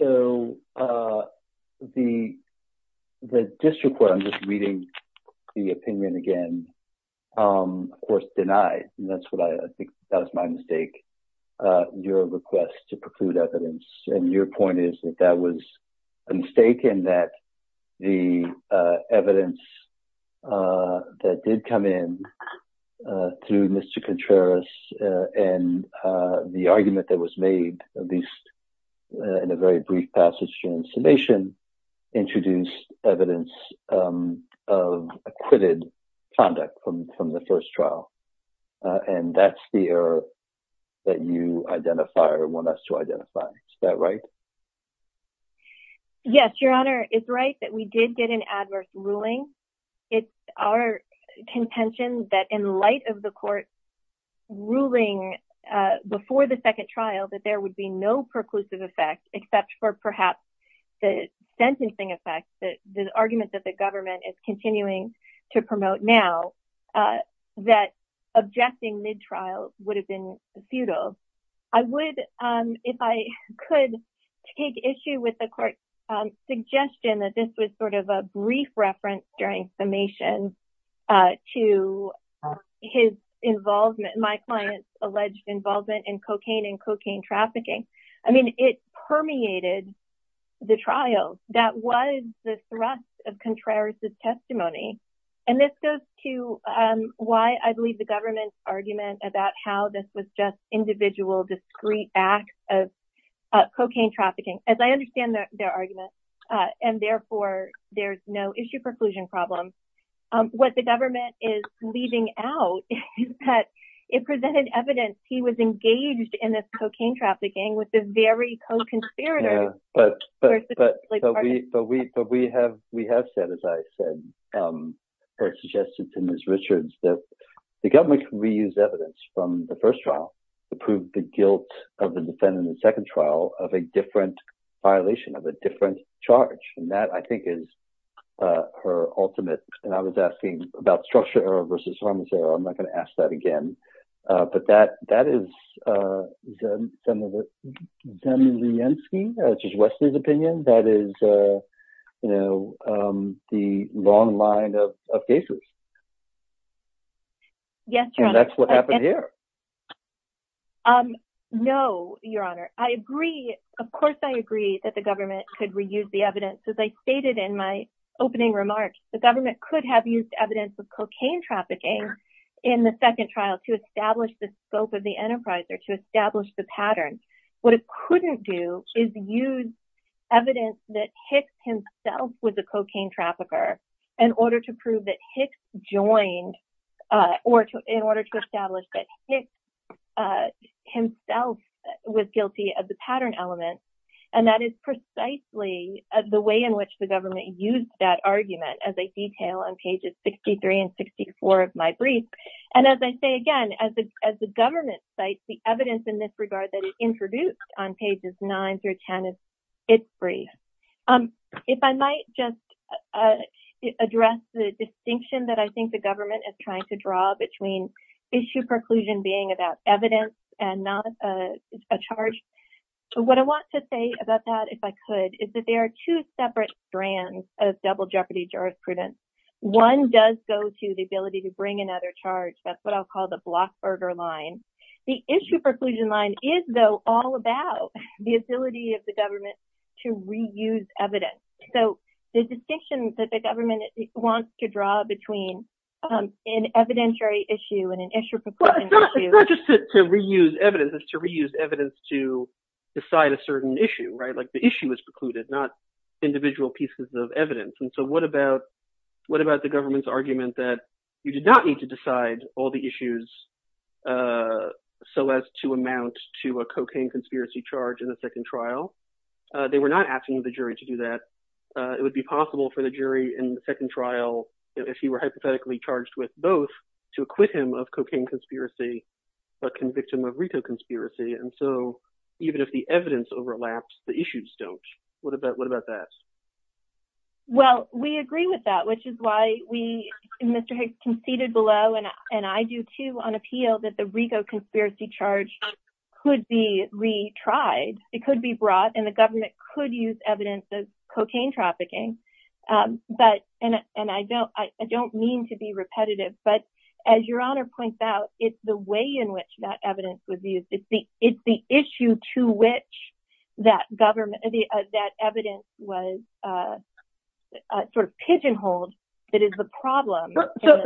So, the district where I'm just reading the opinion again, of course, denied. And that's what I think that's my mistake. Your request to preclude evidence. And your point is that that was a mistake in that the evidence that did come in through Mr. Contreras and the argument that was made, at least in a very brief passage during summation introduced evidence of acquitted conduct from the first trial. And that's the error that you identify or want us to identify. Is that right? Yes, your honor. It's right that we did get an adverse ruling. It's our contention that in light of the court ruling before the second trial that there would be no perclusive effect except for perhaps the sentencing effect that the argument that the government is continuing to promote now that objecting mid trial would have been futile. I would if I could take issue with the court suggestion that this was sort of a brief reference during summation to his involvement. My client's alleged involvement in cocaine and cocaine trafficking. I mean, it permeated the trial. That was the thrust of Contreras' testimony. And this goes to why I believe the government's argument about how this was just individual discreet acts of cocaine trafficking. As I understand their argument and therefore there's no issue perclusion problem. What the government is leaving out is that it presented evidence he was engaged in this cocaine trafficking with the very co-conspirators But we have we have said, as I said, or suggested to Ms. Richards, that the government can reuse evidence from the first trial to prove the guilt of the defendant in the second trial of a different charge. And that, I think, is her ultimate. And I was asking about structure versus I'm going to say I'm not going to ask that again. But that that is done with the N.C. which is Wesley's opinion. That is you know, the long line of cases. Yes. That's what happened here. No, Your Honor, I agree. Of course, I agree that the government could reuse the evidence, as I stated in my opening remarks. The government could have used evidence of cocaine trafficking in the second trial to establish the scope of the enterprise or to establish the pattern. What it couldn't do is use evidence that Hicks himself was a cocaine trafficker in order to prove that Hicks joined or in order to establish that Hicks himself was guilty of the pattern element. And that is precisely the way in which the government used that argument as a detail on pages 63 and 64 of my brief. And as I say again, as the government cites the evidence in this regard that it introduced on pages 9 through 10 of its brief. If I might just address the distinction that I think the government is trying to draw between issue preclusion being about evidence and not a charge. What I want to say about that, if I could, is that there are two separate strands of double jeopardy jurisprudence. One does go to the ability to bring another charge. That's what I'll call the blockburger line. The issue preclusion does go to the ability of the government to reuse evidence. So the distinction that the government wants to draw between an evidentiary issue and an issue preclusion issue. It's not just to reuse evidence. It's to reuse evidence to decide a certain issue, right? Like the issue is precluded, not individual pieces of evidence. And so what about the government's argument that you did not need to decide all the issues so as to amount to a cocaine conspiracy charge in the second trial? They were not asking the jury to do that. It would be possible for the jury in the second trial, if he were hypothetically charged with both, to acquit him of cocaine conspiracy but convict him of retail conspiracy. And so even if the evidence overlaps, the issues don't. What about that? Well, we agree with that, which is why we, Mr. Hicks, conceded below. And I do, too, on appeal that the regal conspiracy charge could be retried. It could be brought in. The government could use evidence of cocaine trafficking. But and I don't I don't mean to be repetitive. But as your honor points out, it's the way in which that evidence would be. It's the issue to which that government that evidence was sort of pigeonholed that is the problem. So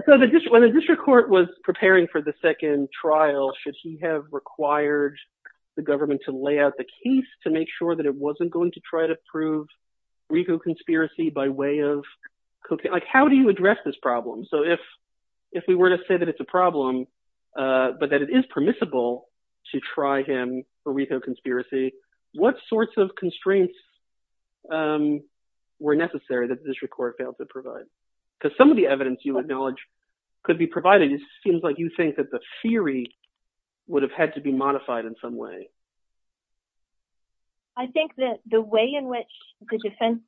when the district court was preparing for the second trial, should he have required the government to lay out the case to make sure that it wasn't going to try to prove regal conspiracy by way of cocaine? How do you address this problem? So if if we were to say that it's a problem, but that it is permissible to try him for retail conspiracy, what sorts of constraints were necessary that this record failed to provide? Because some of the evidence you acknowledge could be provided, it seems like you think that the theory would have had to be modified in some way. I think that the way in which the defense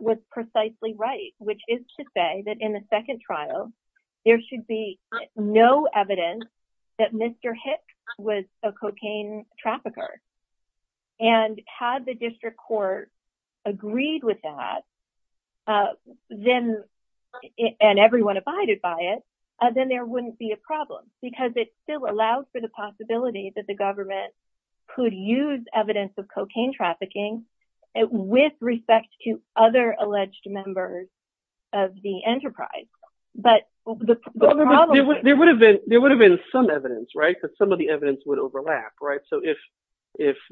was precisely right, which is to say that in the second trial, there should be no evidence that Mr. Hicks was a cocaine trafficker. And had the district court agreed with that, then and everyone abided by it, then there wouldn't be a problem because it still allows for the possibility that the government could use evidence of cocaine trafficking with respect to other alleged members of the enterprise. There would have been some evidence, right? Some of the evidence would overlap, right? So if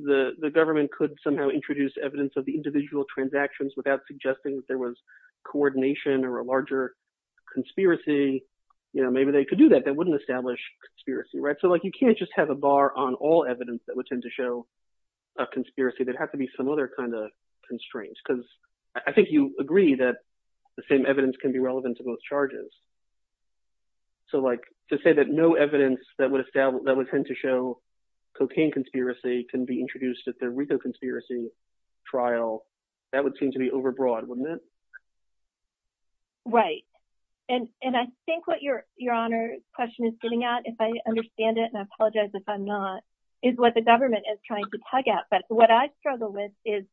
the government could somehow introduce evidence of the individual transactions without suggesting there was coordination or a larger conspiracy, maybe they could do that. That wouldn't establish conspiracy, right? So you can't just have a bar on all evidence that would tend to show a conspiracy. There'd have to be some other kind of constraints because I think you agree that the same evidence can be relevant to both charges. So to say that no evidence that would tend to show cocaine conspiracy can be introduced at the RICO conspiracy trial, that would seem to be overbroad, wouldn't it? Right. And I think what your Honor's question is getting at, if I understand it, and I apologize if I'm not, is what the government is trying to tug at. But what I struggle with is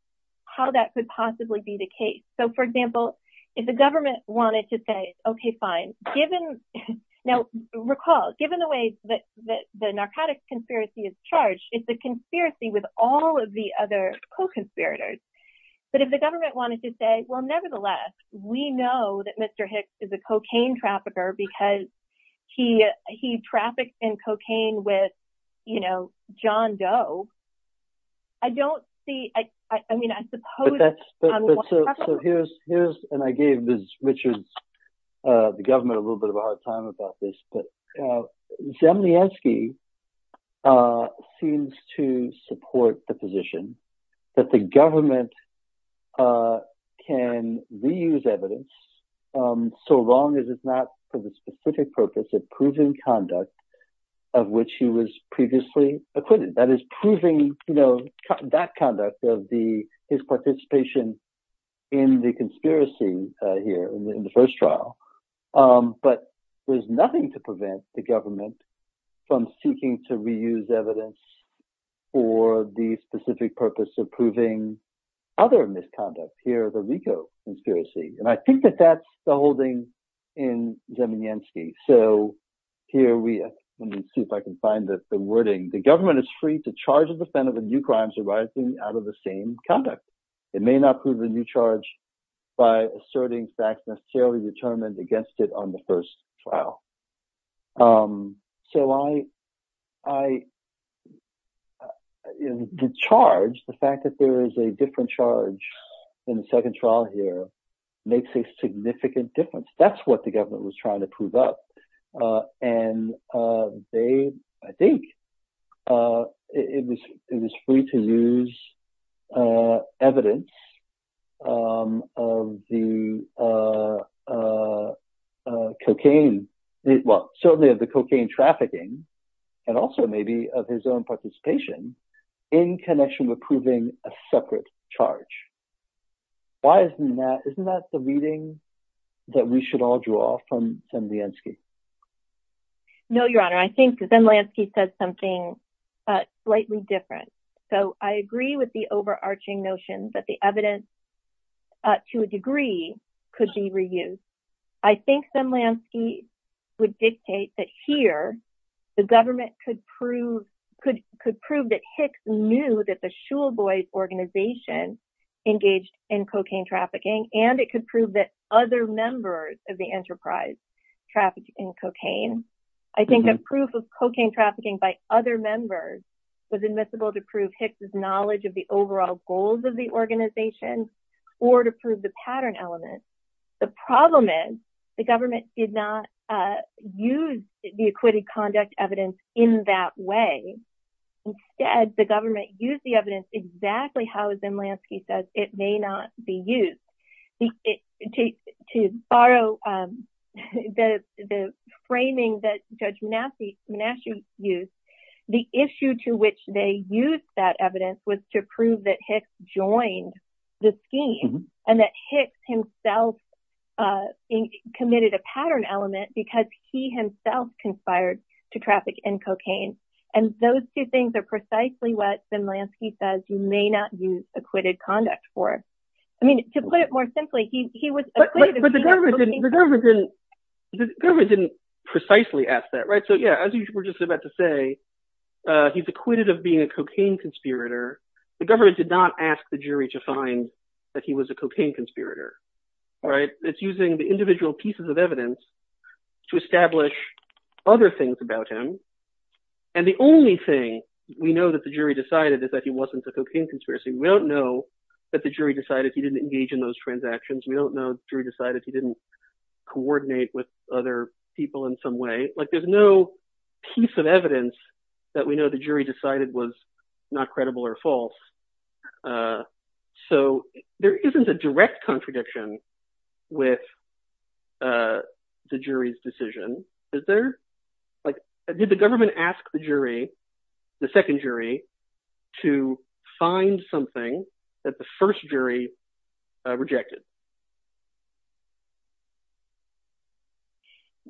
how that could possibly be the case. So, for example, if the government wanted to say, okay, fine, given, now recall, given the way that the narcotics conspiracy is and the conspiracy with all of the other co-conspirators, but if the government wanted to say, well, nevertheless, we know that Mr. Hicks is a cocaine trafficker because he trafficked in cocaine with, you know, John Doe. I don't see, I mean, I suppose. So here's, and I gave Ms. Richards, the government, a little bit of a hard time about this, but Zemlyansky seems to support the position that the government can reuse evidence so long as it's not for the specific purpose of proving conduct of which he was previously acquitted. That is proving, you know, that conduct of his participation in the conspiracy here in the first trial. But there's nothing to prevent the government from seeking to reuse evidence for the specific purpose of proving other misconduct here, the RICO conspiracy. And I think that that's the holding in Zemlyansky. So here we, let me see if I can find the wording. The government is free to charge a defendant with new crimes arising out of the same conduct. It may not prove a new charge by asserting facts necessarily determined against it on the first trial. So I, the charge, the fact that there is a different charge in the second trial here makes a significant difference. That's what the government was trying to prove up. And they, I think it was free to use evidence of the cocaine, well, certainly of the cocaine trafficking and also maybe of his own participation in connection with proving a separate charge. Why isn't that, isn't that the reading that we should all draw from Zemlyansky? No, Your Honor. I think Zemlyansky says something slightly different. So I agree with the overarching notion that the evidence to a degree could be reused. I think Zemlyansky would dictate that here the government could prove, it could prove that Hicks knew that the Shule Boys organization engaged in cocaine trafficking and it could prove that other members of the enterprise trafficked in cocaine. I think that proof of cocaine trafficking by other members was admissible to prove Hicks' knowledge of the overall goals of the organization or to prove the pattern element. The problem is the government did not use the acquitted conduct evidence in that way. Instead, the government used the evidence exactly how Zemlyansky says it may not be used. To borrow the framing that Judge Manasci used, the issue to which they used that evidence was to prove that Hicks joined the scheme and that Hicks himself committed a pattern element because he himself conspired to traffic in cocaine. And those two things are precisely what Zemlyansky says you may not use acquitted conduct for. To put it more simply, he was acquitted. But the government didn't precisely ask that, right? So yeah, as you were just about to say, he's acquitted of being a cocaine conspirator. The government did not ask the jury to find that he was a cocaine conspirator, right? It's using the individual pieces of evidence to establish other things about him. And the only thing we know that the jury decided is that he wasn't a cocaine conspiracy. We don't know that the jury decided he didn't engage in those transactions. We don't know the jury decided he didn't coordinate with other people in some way. There's no piece of evidence that we know the jury decided was not credible or false. So there isn't a direct contradiction with the jury's decision, is there? Did the government ask the jury, the second jury, to find something that the first jury rejected?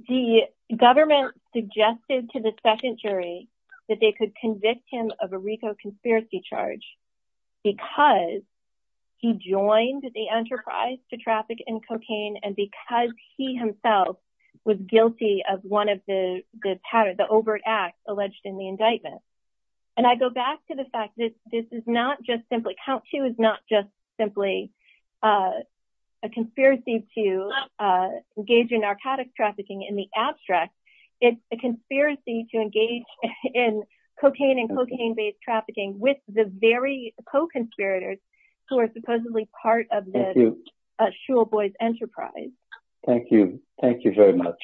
The government suggested to the second jury that they could convict him of a RICO conspiracy charge because he joined the enterprise to traffic in cocaine and because he himself was guilty of one of the patterns, the overt acts alleged in the indictment. And I go back to the fact that this is not just simply, count two is not just simply a conspiracy to engage in narcotics trafficking in the abstract. It's a conspiracy to engage in cocaine and cocaine-based trafficking with the very co-conspirators who are supposedly part of the Shul Boys enterprise. Thank you. Thank you very much.